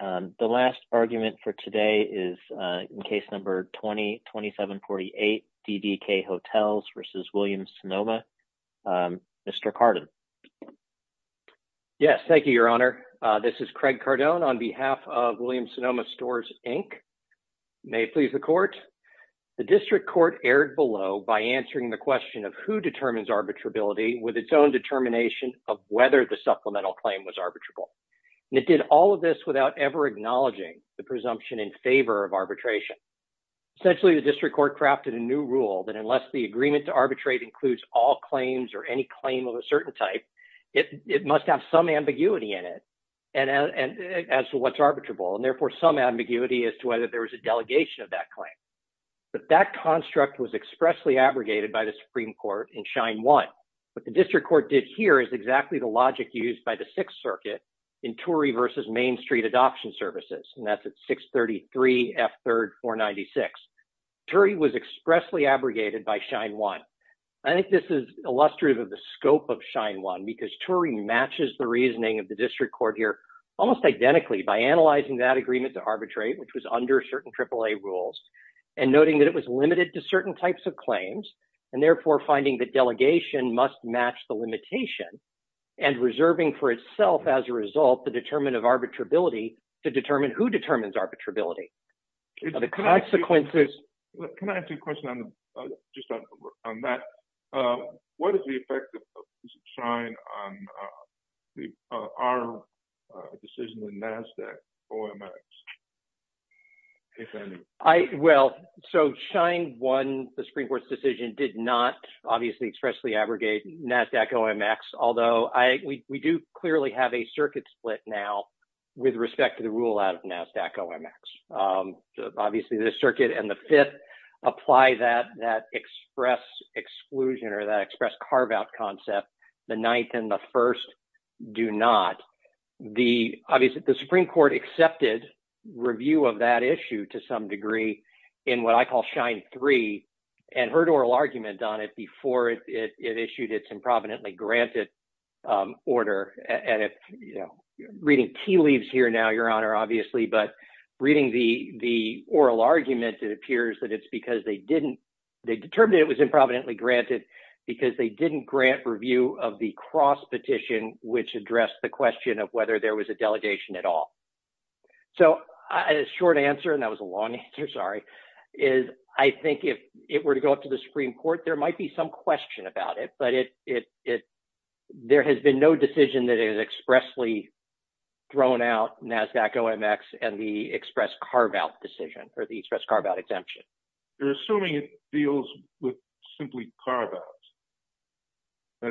The last argument for today is in case number 20-2748, DDK Hotels v. Williams-Sonoma. Mr. Cardon. Yes, thank you, Your Honor. This is Craig Cardon on behalf of Williams-Sonoma Stores, Inc. May it please the Court. The District Court erred below by answering the question of who determines arbitrability with its own determination of whether the supplemental claim was arbitrable. And it did all of this without ever acknowledging the presumption in favor of arbitration. Essentially, the District Court crafted a new rule that unless the agreement to arbitrate includes all claims or any claim of a certain type, it must have some ambiguity in it as to what's arbitrable, and therefore some ambiguity as to whether there was a delegation of that claim. But that construct was expressly abrogated by the Supreme Court in Schein 1. What the District Court did here is exactly the logic used by the Sixth Circuit in Turey v. Main Street Adoption Services, and that's at 633 F. 3rd 496. Turey was expressly abrogated by Schein 1. I think this is illustrative of the scope of Schein 1 because Turey matches the reasoning of the District Court here almost identically by analyzing that agreement to arbitrate, which was under certain AAA rules, and noting that it was limited to certain types of claims, and therefore finding that delegation must match the limitation, and reserving for itself as a result the determinant of arbitrability to determine who determines arbitrability. The consequences... Can I ask you a question on that? What is the did not obviously expressly abrogate NASDAQ OMX, although we do clearly have a circuit split now with respect to the rule out of NASDAQ OMX. Obviously, the Circuit and the Fifth apply that express exclusion or that express carve-out concept. The Ninth and the First do not. The Supreme Court accepted review of that issue to some degree in what I call Schein 3, and heard oral argument on it before it issued its improvidently granted order. Reading tea leaves here now, Your Honor, obviously, but reading the oral argument, it appears that it's because they determined it was improvidently granted because they didn't grant review of the cross-petition, which addressed the question of whether there was delegation at all. A short answer, and that was a long answer, sorry, is I think if it were to go up to the Supreme Court, there might be some question about it, but there has been no decision that is expressly thrown out NASDAQ OMX and the express carve-out exemption. You're assuming it deals with simply carve-outs,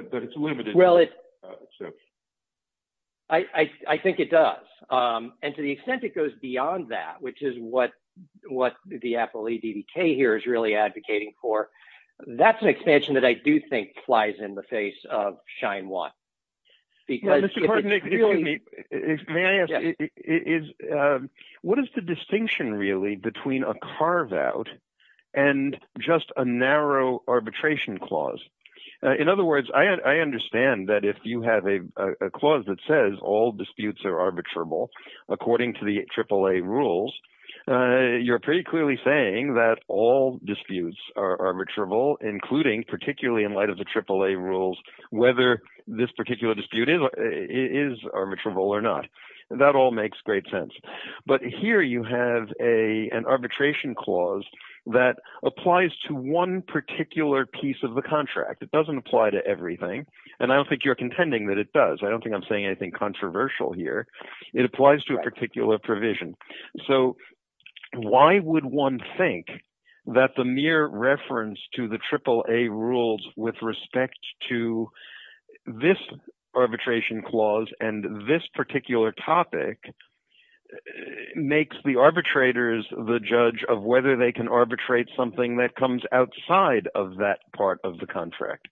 that it's limited. Well, I think it does, and to the extent it goes beyond that, which is what the Apple EDDK here is really advocating for, that's an expansion that I do think flies in the face of Schein 1. May I ask, what is the distinction really between a carve-out and just a narrow arbitration clause? In other words, I understand that if you have a clause that says all disputes are arbitrable according to the AAA rules, you're pretty clearly saying that all disputes are arbitrable, including particularly in light of the AAA rules, whether this particular dispute is arbitrable or not. That all makes great sense, but here you have an arbitration clause that applies to one particular piece of the contract. It doesn't apply to everything, and I don't think you're contending that it does. I don't think I'm saying anything controversial here. It applies to a particular provision. So why would one think that the mere reference to the AAA rules with respect to this arbitration clause and this particular topic makes the arbitrators the judge of whether they can arbitrate something that comes outside of that part of the contract?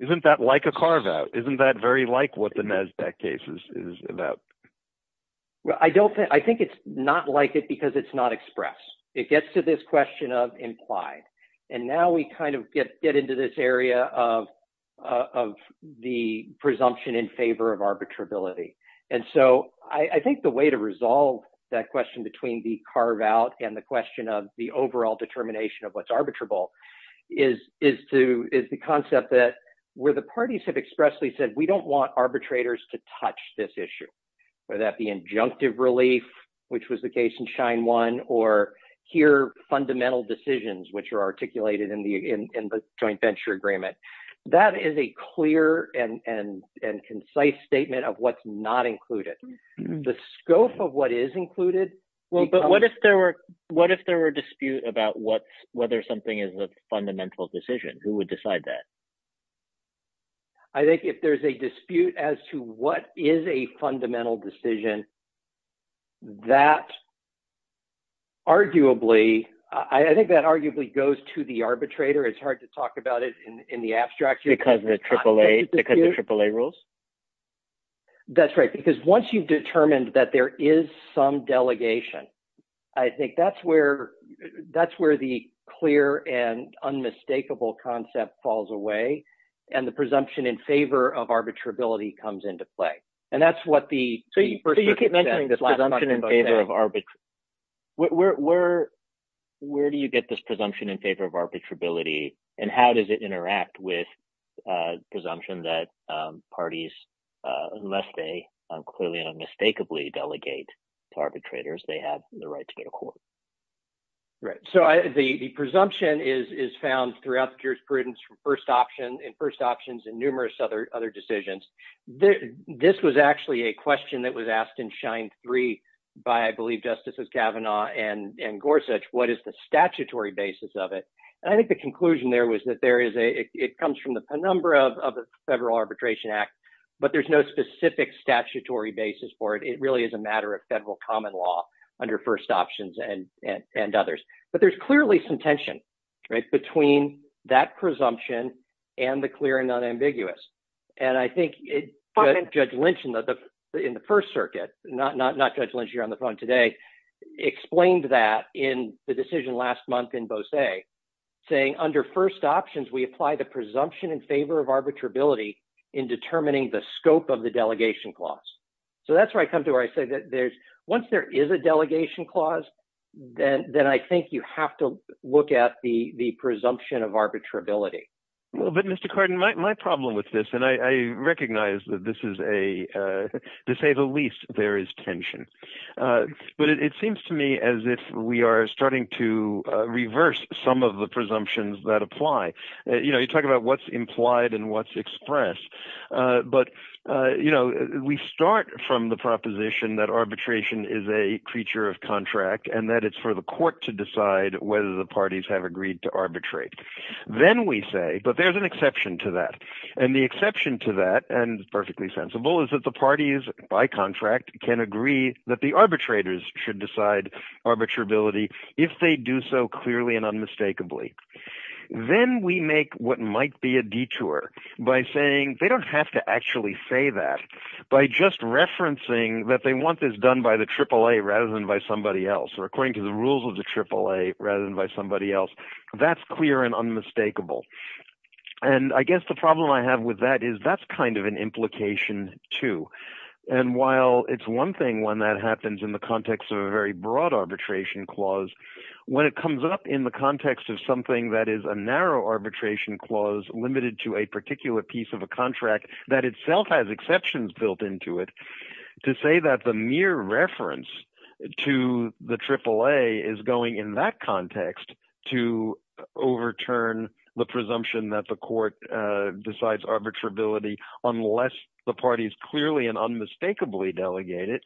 Isn't that like a carve-out? Isn't that very like what the NASDAQ case is about? Well, I think it's not like it because it's not expressed. It gets to this question of implied, and now we kind of get into this area of the presumption in favor of arbitrability. And so I think the way to resolve that question between the carve-out and the question of the overall determination of what's arbitrable is the concept that where the parties have expressly said we don't want arbitrators to touch this issue, whether that be injunctive relief, which was the case in Schein 1, or here, fundamental decisions, which are articulated in the Joint Venture Agreement. That is a clear and concise statement of what's not included. The scope of what is included... Well, but what if there were dispute about whether something is a fundamental decision? Who would decide that? I think if there's a dispute as to what is a fundamental decision, that arguably, I think that arguably goes to the arbitrator. It's hard to talk about it in the abstract. Because the AAA rules? That's right, because once you've determined that there is some delegation, I think that's where the clear and unmistakable concept falls away. And the presumption in favor of arbitrability comes into play. And that's what the... So you keep mentioning this presumption in favor of... Where do you get this presumption in favor of arbitrability? And how does it interact with presumption that parties, unless they clearly and unmistakably delegate to arbitrators, they have the right to get a court? Right. So the presumption is found throughout the jurisprudence in first options and numerous other decisions. This was actually a question that was asked in Schein 3 by, I believe, Justices Kavanaugh and Gorsuch, what is the statutory basis of it? And I think the conclusion there was that it comes from a number of the Federal Arbitration Act, but there's no specific statutory basis for it. It really is a matter of federal common law under first options and others. But there's clearly some tension between that presumption and the clear and unambiguous. And I think Judge Lynch in the first circuit, not Judge Lynch here on the phone today, explained that in the decision last month in Beausé, saying under first options, we apply the presumption in favor of arbitrability in determining the scope of the delegation clause. So that's where I come to where I say that there's, once there is a delegation clause, then I think you have to look at the presumption of arbitrability. Well, but Mr. Cardin, my problem with this, and I recognize that this is a, to say the least, there is tension. But it seems to me as if we are starting to reverse some of the presumptions that apply. You know, you talk about what's implied and what's expressed. But, you know, we start from the proposition that arbitration is a creature of contract and that it's for the court to decide whether the parties have agreed to arbitrate. Then we say, but there's an exception to that. And the exception to that, and perfectly sensible, is that the parties by contract can agree that the arbitrators should decide arbitrability if they do so clearly and don't have to actually say that. By just referencing that they want this done by the AAA rather than by somebody else, or according to the rules of the AAA rather than by somebody else, that's clear and unmistakable. And I guess the problem I have with that is that's kind of an implication too. And while it's one thing when that happens in the context of a very broad arbitration clause, when it comes up in the context of something that is a narrow arbitration clause limited to a particular piece of a contract that itself has exceptions built into it, to say that the mere reference to the AAA is going in that context to overturn the presumption that the court decides arbitrability unless the parties clearly and unmistakably delegate it,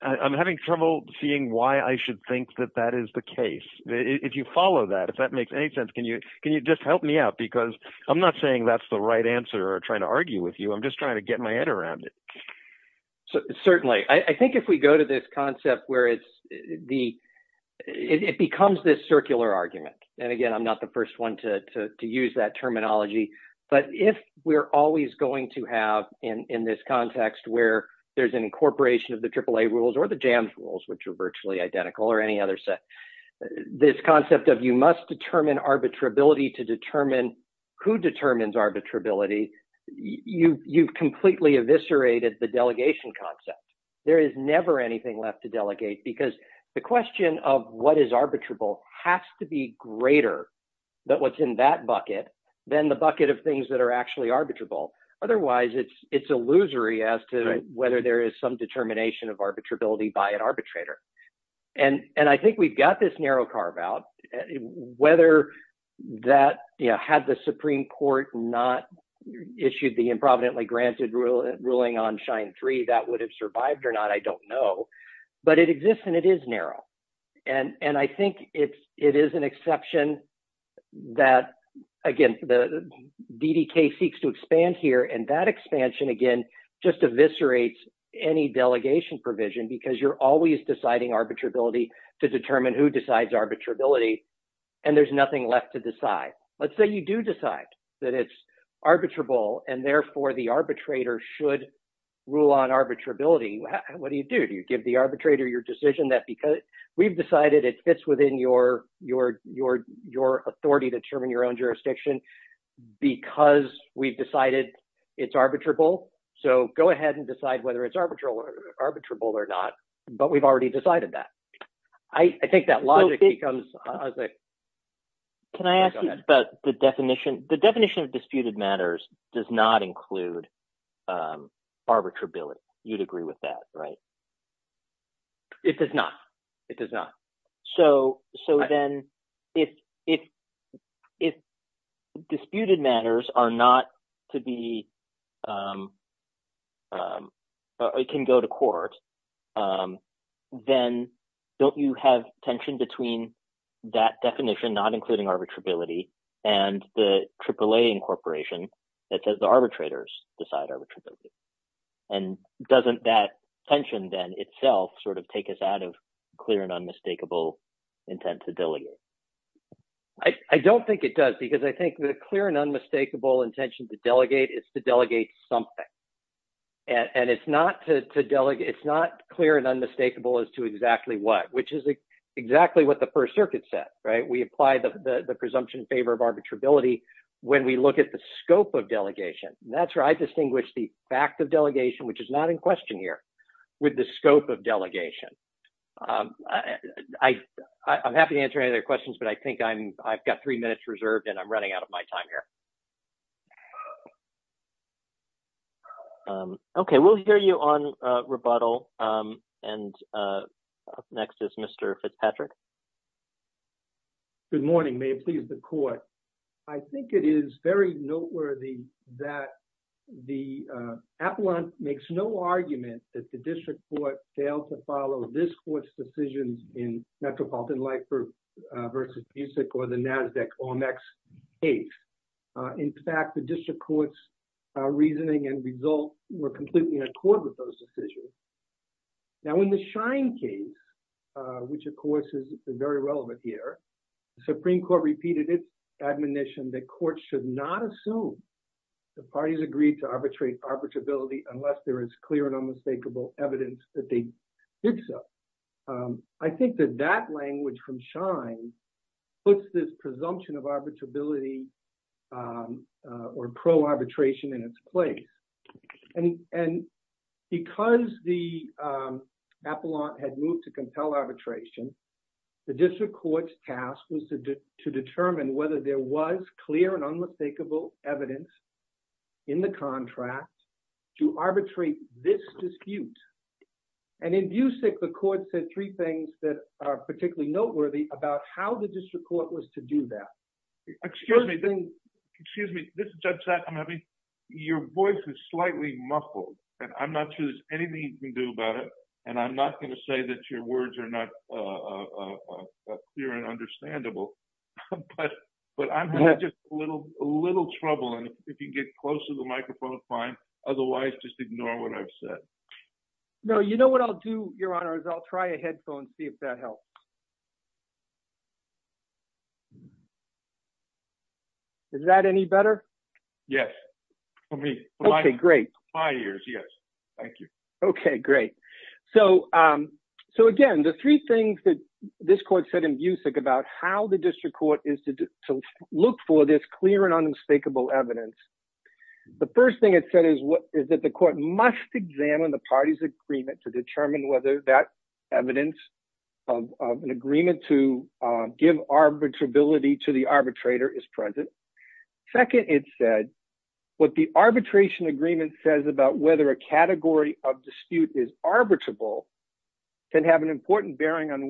I'm having trouble seeing why I should think that that is the case. If you follow that, if that makes any sense, can you just help me out? Because I'm not saying that's the right answer or trying to argue with you. I'm just trying to get my head around it. Certainly. I think if we go to this concept where it becomes this circular argument, and again, I'm not the first one to use that terminology, but if we're always going to have in this context where there's an incorporation of the AAA rules or the JAMS rules, which are arbitrability to determine who determines arbitrability, you've completely eviscerated the delegation concept. There is never anything left to delegate because the question of what is arbitrable has to be greater than what's in that bucket than the bucket of things that are actually arbitrable. Otherwise, it's illusory as to whether there is some determination of that. Had the Supreme Court not issued the improvidently granted ruling on shine three, that would have survived or not. I don't know, but it exists and it is narrow. I think it is an exception that, again, the DDK seeks to expand here. That expansion, again, just eviscerates any delegation provision because you're always deciding arbitrability to determine who decides arbitrability, and there's nothing left to decide. Let's say you do decide that it's arbitrable, and therefore, the arbitrator should rule on arbitrability. What do you do? Do you give the arbitrator your decision that because we've decided it fits within your authority to determine your own jurisdiction because we've decided it's arbitrable, so go ahead and decide whether it's arbitrable or not, but we've already decided that. I think that logic becomes- Can I ask you about the definition? The definition of disputed matters does not include arbitrability. You'd agree with that, right? It does not. It does not. So then, if disputed matters can go to court, then don't you have tension between that definition not including arbitrability and the AAA incorporation that says the arbitrators decide arbitrability? Doesn't that tension then itself take us out of clear and unmistakable intent to delegate? I don't think it does because I think the clear and unmistakable intention to delegate is to delegate something, and it's not clear and unmistakable as to exactly what, which is exactly what the First Circuit said, right? We apply the presumption in favor of arbitrability when we look at the scope of delegation, and that's where I distinguish the fact of delegation, which is not in question here, with the scope of delegation. I'm happy to answer any other questions, but I think I've got three minutes reserved, and I'm running out of my time here. Okay, we'll hear you on rebuttal, and next is Mr. Fitzpatrick. Good morning. May it please the Court. I think it is very noteworthy that the in Metropolitan Lifer versus Busick or the NASDAQ-OMEX case, in fact, the district court's reasoning and results were completely in accord with those decisions. Now, in the Shine case, which of course is very relevant here, the Supreme Court repeated its admonition that courts should not assume the parties agreed to arbitrate arbitrability unless there is clear and unmistakable evidence that they did so. I think that that language from Shine puts this presumption of arbitrability or pro-arbitration in its place, and because the appellant had moved to compel arbitration, the district court's task was to determine whether there was clear and unmistakable evidence in the contract to arbitrate this dispute, and in Busick, the court said three things that are particularly noteworthy about how the district court was to do that. Excuse me. Excuse me. Judge Sack, I'm happy. Your voice is slightly muffled, and I'm not sure there's anything you can do about it, and I'm not going to say that your words are not clear and understandable, but I'm having just a little trouble, and if you can get close to the microphone, fine. Otherwise, just ignore what I've said. No, you know what I'll do, Your Honor, is I'll try a headphone, see if that helps. Is that any better? Yes, for me. Okay, great. My ears, yes. Thank you. Okay, great. So again, the three things that this court said in Busick about how the district court is to look for this clear and unmistakable evidence, the first thing it said is that the court must examine the party's agreement to determine whether that evidence of an agreement to give arbitrability to the arbitrator is present. Second, it said what the arbitration agreement says about whether a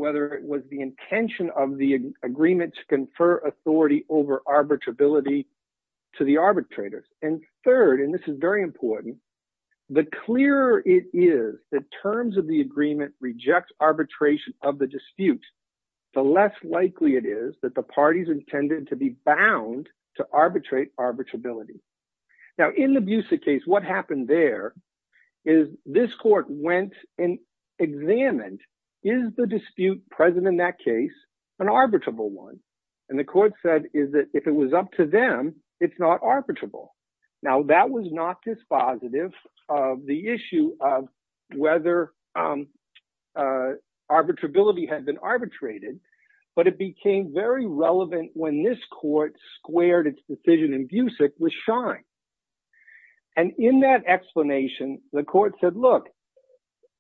whether it was the intention of the agreement to confer authority over arbitrability to the arbitrators. And third, and this is very important, the clearer it is that terms of the agreement reject arbitration of the dispute, the less likely it is that the parties intended to be bound to arbitrate arbitrability. Now, in the Busick case, what happened there is this court went and examined is the dispute present in that case an arbitrable one. And the court said is that if it was up to them, it's not arbitrable. Now, that was not dispositive of the issue of whether arbitrability had been arbitrated, but it became very relevant when this court squared its decision with Schein. And in that explanation, the court said, look,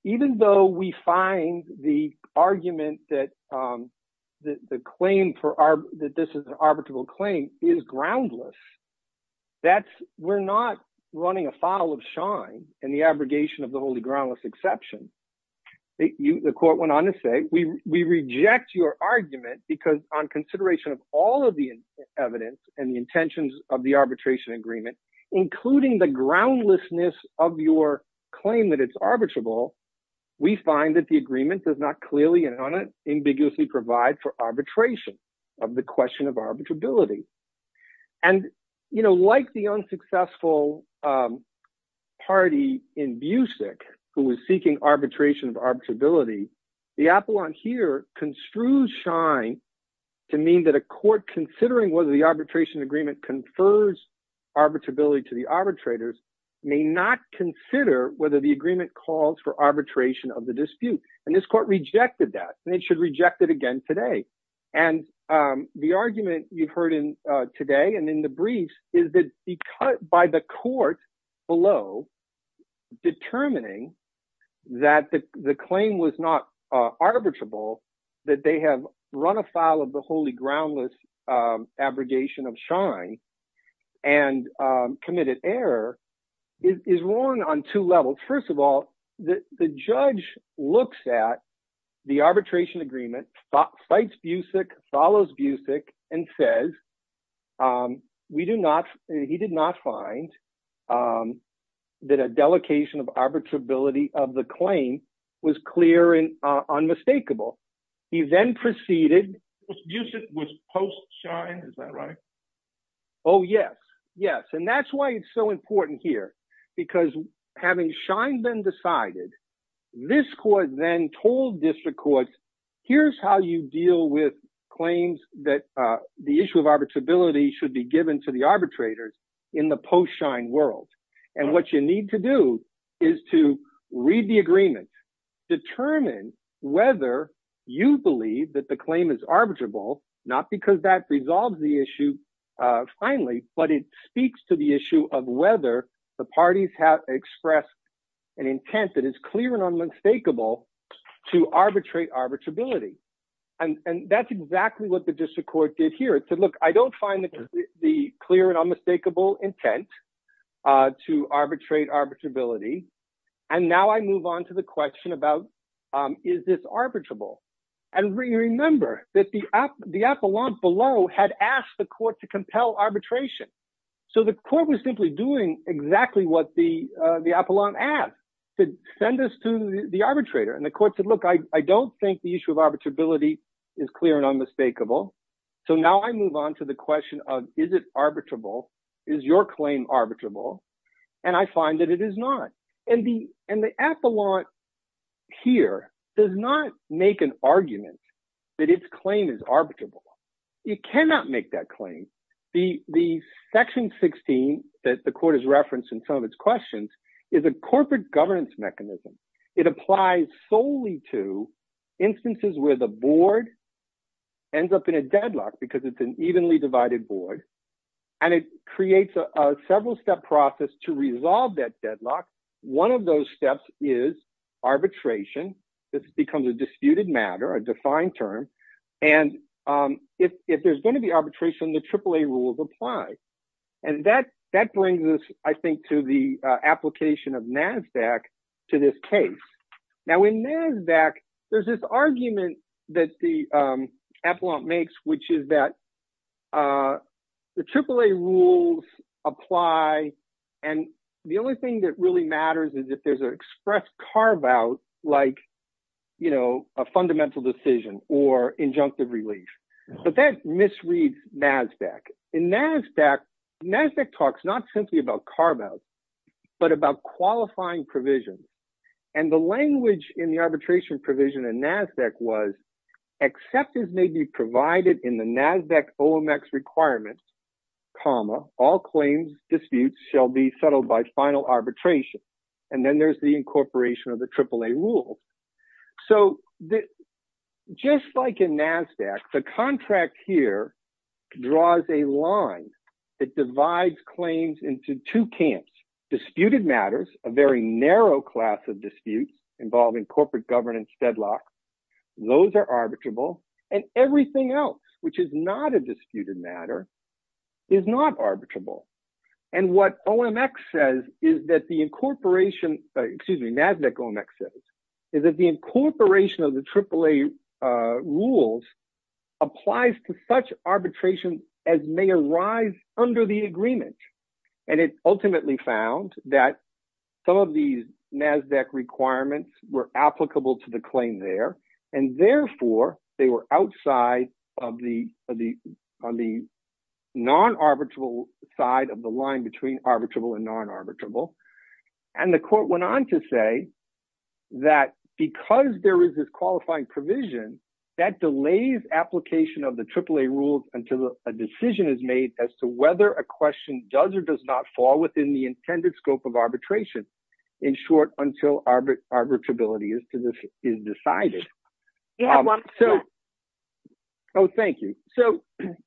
even though we find the argument that the claim for our that this is an arbitrable claim is groundless, that's we're not running afoul of Schein and the abrogation of the holy groundless exception. The court went on to say we reject your argument, because on consideration of all of the evidence and the intentions of the arbitration agreement, including the groundlessness of your claim that it's arbitrable, we find that the agreement does not clearly and unambiguously provide for arbitration of the question of arbitrability. And, you know, like the unsuccessful party in Busick, who is seeking arbitration of construes Schein to mean that a court considering whether the arbitration agreement confers arbitrability to the arbitrators may not consider whether the agreement calls for arbitration of the dispute. And this court rejected that, and it should reject it again today. And the argument you've heard in today and in the briefs is that by the court below determining that the claim was not arbitrable, that they have run afoul of the holy groundless abrogation of Schein and committed error is wrong on two levels. First of all, the judge looks at the arbitration agreement, fights Busick, follows Busick, and says we do not, he did not find that a delegation of arbitrability was unmistakable. He then proceeded with post-Schein, is that right? Oh, yes. Yes. And that's why it's so important here, because having Schein then decided, this court then told district courts, here's how you deal with claims that the issue of arbitrability should be given to the arbitrators in the post-Schein world. And what you need to do is to read the agreement, determine whether you believe that the claim is arbitrable, not because that resolves the issue finally, but it speaks to the issue of whether the parties have expressed an intent that is clear and unmistakable to arbitrate arbitrability. And that's exactly what the district court did here. It said, look, I don't find the clear and unmistakable intent to arbitrate arbitrability. And now I move on to the question about, is this arbitrable? And remember that the appellant below had asked the court to compel arbitration. So the court was simply doing exactly what the appellant asked, to send us to the arbitrator. And the court said, look, I don't think the issue of arbitrability is clear and unmistakable. So now I move on to the question of, is it arbitrable? Is your claim arbitrable? And I find that it is not. And the appellant here does not make an argument that its claim is arbitrable. You cannot make that claim. The section 16 that the court has referenced in some of its questions is a corporate governance mechanism. It applies solely to instances where the board ends up in a deadlock because it's an evenly divided board. And it creates a several-step process to resolve that deadlock. One of those steps is arbitration. This becomes a disputed matter, a defined term. And if there's going to be arbitration, the AAA rules apply. And that brings us, I think, to the application of NASDAQ to this case. Now, in NASDAQ, there's this argument that the appellant makes, which is that the AAA rules apply. And the only thing that really matters is if there's an express carve-out like a fundamental decision or injunctive relief. But that misreads NASDAQ. In NASDAQ, NASDAQ talks not simply about was, except as may be provided in the NASDAQ OMX requirements, comma, all claims disputes shall be settled by final arbitration. And then there's the incorporation of the AAA rules. So just like in NASDAQ, the contract here draws a line that divides claims into two camps, disputed matters, a very narrow class of disputes involving corporate governance deadlocks. Those are arbitrable. And everything else, which is not a disputed matter, is not arbitrable. And what OMX says is that the incorporation, excuse me, NASDAQ OMX says, is that the incorporation of the AAA rules applies to such arbitration as may arise under the agreement. And it ultimately found that some of these NASDAQ requirements were applicable to the claim there. And therefore, they were outside of the non-arbitrable side of the line between arbitrable and non-arbitrable. And the court went on to say that because there is this qualifying provision that delays application of the AAA rules until a decision is made as to whether a question does or does not fall within the intended scope of arbitration. In short, until arbitrability is decided. Oh, thank you. So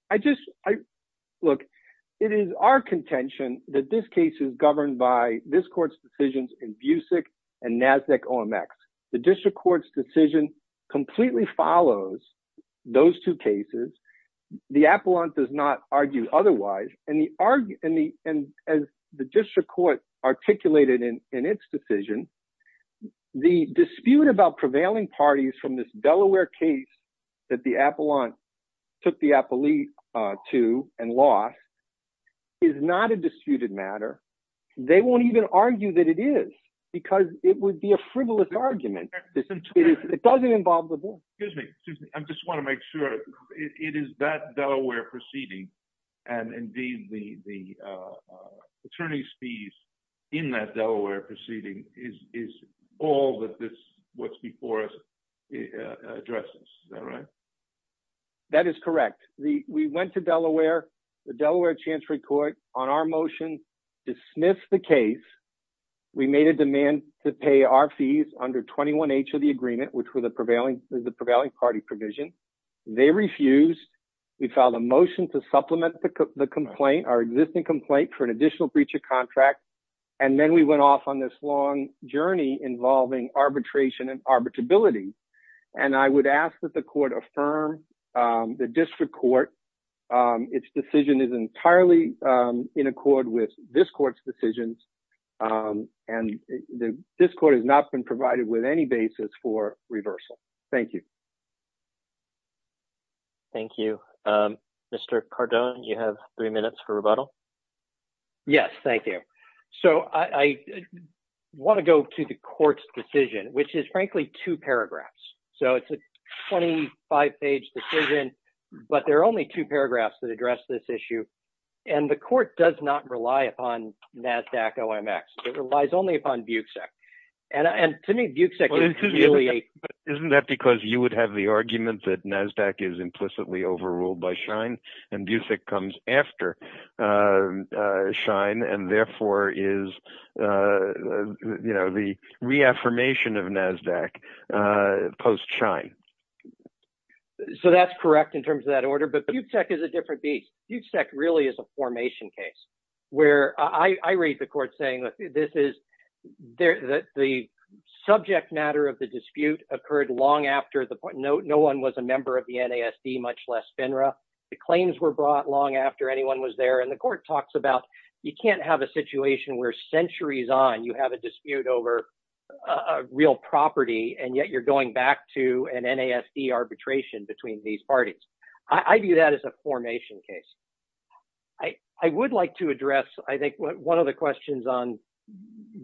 I just, look, it is our contention that this case is governed by this court's decisions in BUSIC and NASDAQ OMX. The district court's decision completely follows those two cases. The appellant does not argue otherwise. And the district court articulated in its decision, the dispute about prevailing parties from this Delaware case that the appellant took the appellee to and lost is not a disputed matter. They won't even argue that it is because it would be a frivolous argument. It doesn't involve the board. Excuse me. Excuse me. I just want to make sure. It is that Delaware proceeding and indeed the attorney's fees in that Delaware proceeding is all that this, what's before us addresses. Is that right? That is correct. We went to Delaware, the Delaware Chancery Court on our motion, dismissed the case. We made a demand to pay our fees under 21H of the agreement, which was the prevailing party provision. They refused. We filed a motion to supplement the complaint, our existing complaint for an additional breach of contract. And then we went off on this long journey involving arbitration and arbitrability. And I would ask that the court affirm the district court, its decision is entirely in accord with this court's decisions. And this court has not been provided with any basis for reversal. Thank you. Thank you. Mr. Cardone, you have three minutes for rebuttal. Yes. Thank you. So I want to go to the court's decision, which is frankly two paragraphs. So it's a 25 page decision, but there are only two paragraphs that address this issue. And the court does not rely upon NASDAQ OMX. It relies only upon Buick SEC. And to me, Buick SEC is really... Isn't that because you would have the argument that NASDAQ is implicitly overruled by Shine and Buick SEC comes after Shine and therefore is, you know, the reaffirmation of NASDAQ post Shine. So that's correct in terms of that order. But Buick SEC is a different beast. Buick SEC really is a formation case where I read the court saying that this is the subject matter of the dispute occurred long after the point. No one was a member of the NASD, much less FINRA. The claims were brought long after anyone was there. And the court talks about you can't have a situation where centuries on you have a dispute over a real property, and yet you're going back to an NASD arbitration between these parties. I view that as a formation case. I would like to address, I think, one of the questions on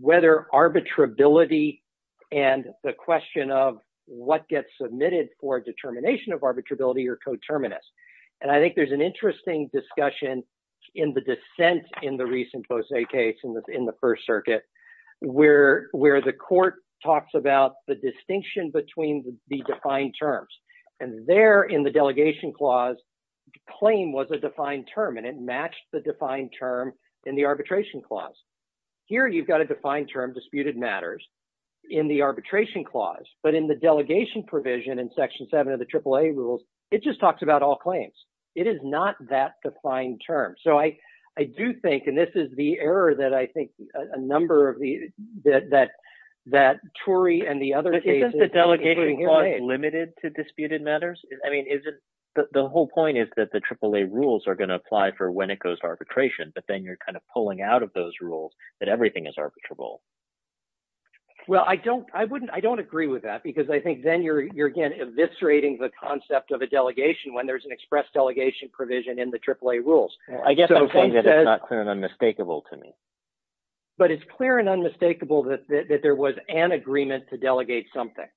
whether arbitrability and the question of what gets submitted for determination of arbitrability are coterminous. And I think there's an interesting discussion in the dissent in the recent Fausse case in the first circuit where the court talks about the distinction between the defined terms. And there in the defined term, and it matched the defined term in the arbitration clause. Here you've got a defined term, disputed matters, in the arbitration clause. But in the delegation provision in Section 7 of the AAA rules, it just talks about all claims. It is not that defined term. So I do think, and this is the error that I think a number of the, that, that Tory and the other cases. Is the delegating clause limited to disputed matters? I mean, is it, the whole point is that AAA rules are going to apply for when it goes to arbitration, but then you're kind of pulling out of those rules that everything is arbitrable. Well, I don't, I wouldn't, I don't agree with that because I think then you're, you're again, eviscerating the concept of a delegation when there's an express delegation provision in the AAA rules. I guess it's not clear and unmistakable to me. But it's clear and unmistakable that there was an agreement to delegate something.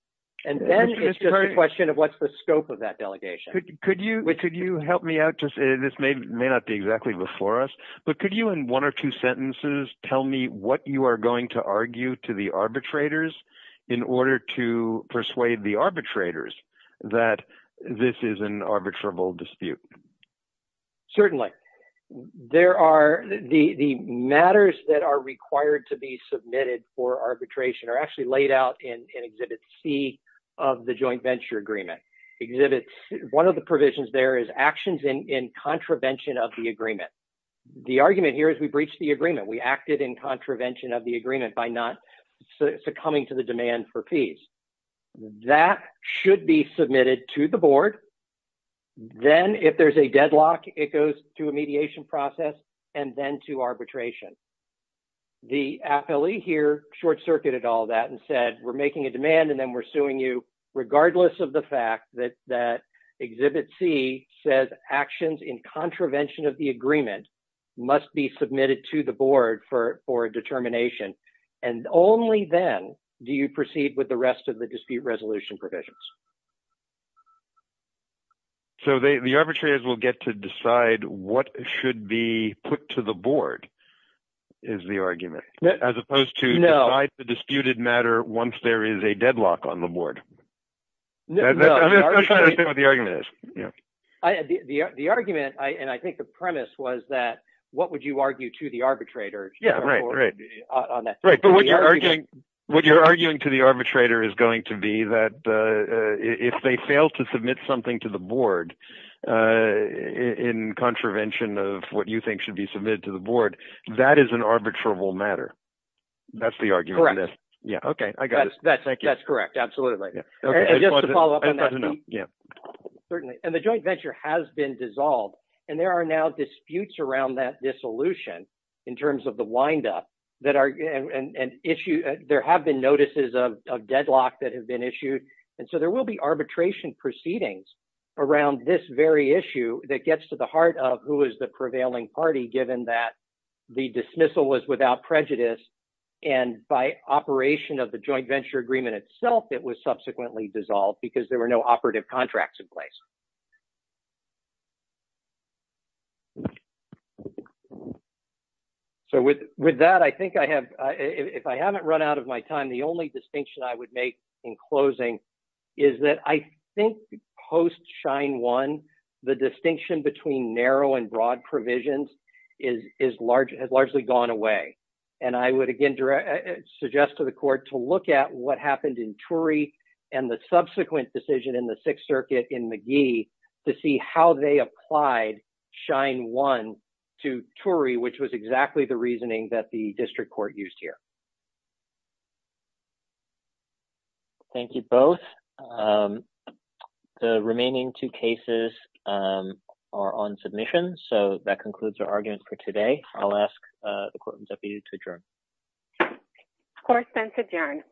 And then it's just a question of what's the scope of that delegation. Could you, could you help me out to, this may, may not be exactly before us, but could you in one or two sentences tell me what you are going to argue to the arbitrators in order to persuade the arbitrators that this is an arbitrable dispute? Certainly. There are, the, the matters that are required to be submitted for arbitration are actually laid out in Exhibit C of the Joint Venture Agreement. Exhibits, one of the provisions there is actions in, in contravention of the agreement. The argument here is we breached the agreement. We acted in contravention of the agreement by not succumbing to the demand for fees. That should be submitted to the board. Then if there's a deadlock, it goes to a mediation process and then to arbitration. The appellee here short-circuited all that and said, we're making a demand and then we're suing you regardless of the fact that, that Exhibit C says actions in contravention of the agreement must be submitted to the board for, for determination. And only then do you proceed with the rest of the dispute resolution provisions. So they, the arbitrators will get to decide what should be put to the board, is the argument, as opposed to the disputed matter, once there is a deadlock on the board. The argument, and I think the premise was that, what would you argue to the arbitrator? Yeah, right. Right. But what you're arguing, what you're arguing to the arbitrator is going to be that if they fail to submit something to the of what you think should be submitted to the board, that is an arbitrable matter. That's the argument. Yeah. Okay. I got it. That's correct. Absolutely. Certainly. And the joint venture has been dissolved and there are now disputes around that dissolution in terms of the windup that are an issue. There have been notices of deadlock that have been issued. And so there will be arbitration proceedings around this very issue that gets to the heart of who is the prevailing party, given that the dismissal was without prejudice. And by operation of the joint venture agreement itself, it was subsequently dissolved because there were no operative contracts in place. So with that, I think I have, if I haven't run out of my time, the only distinction I would make in closing is that I think post Shine One, the distinction between narrow and broad provisions has largely gone away. And I would again suggest to the court to look at what happened in Turey and the subsequent decision in the Sixth Circuit in McGee to see how they applied Shine One to Turey, which was exactly the reasoning that the district court used here. Thank you both. The remaining two cases are on submission. So that concludes our argument for today. I'll ask the court and deputy to adjourn. Court is adjourned.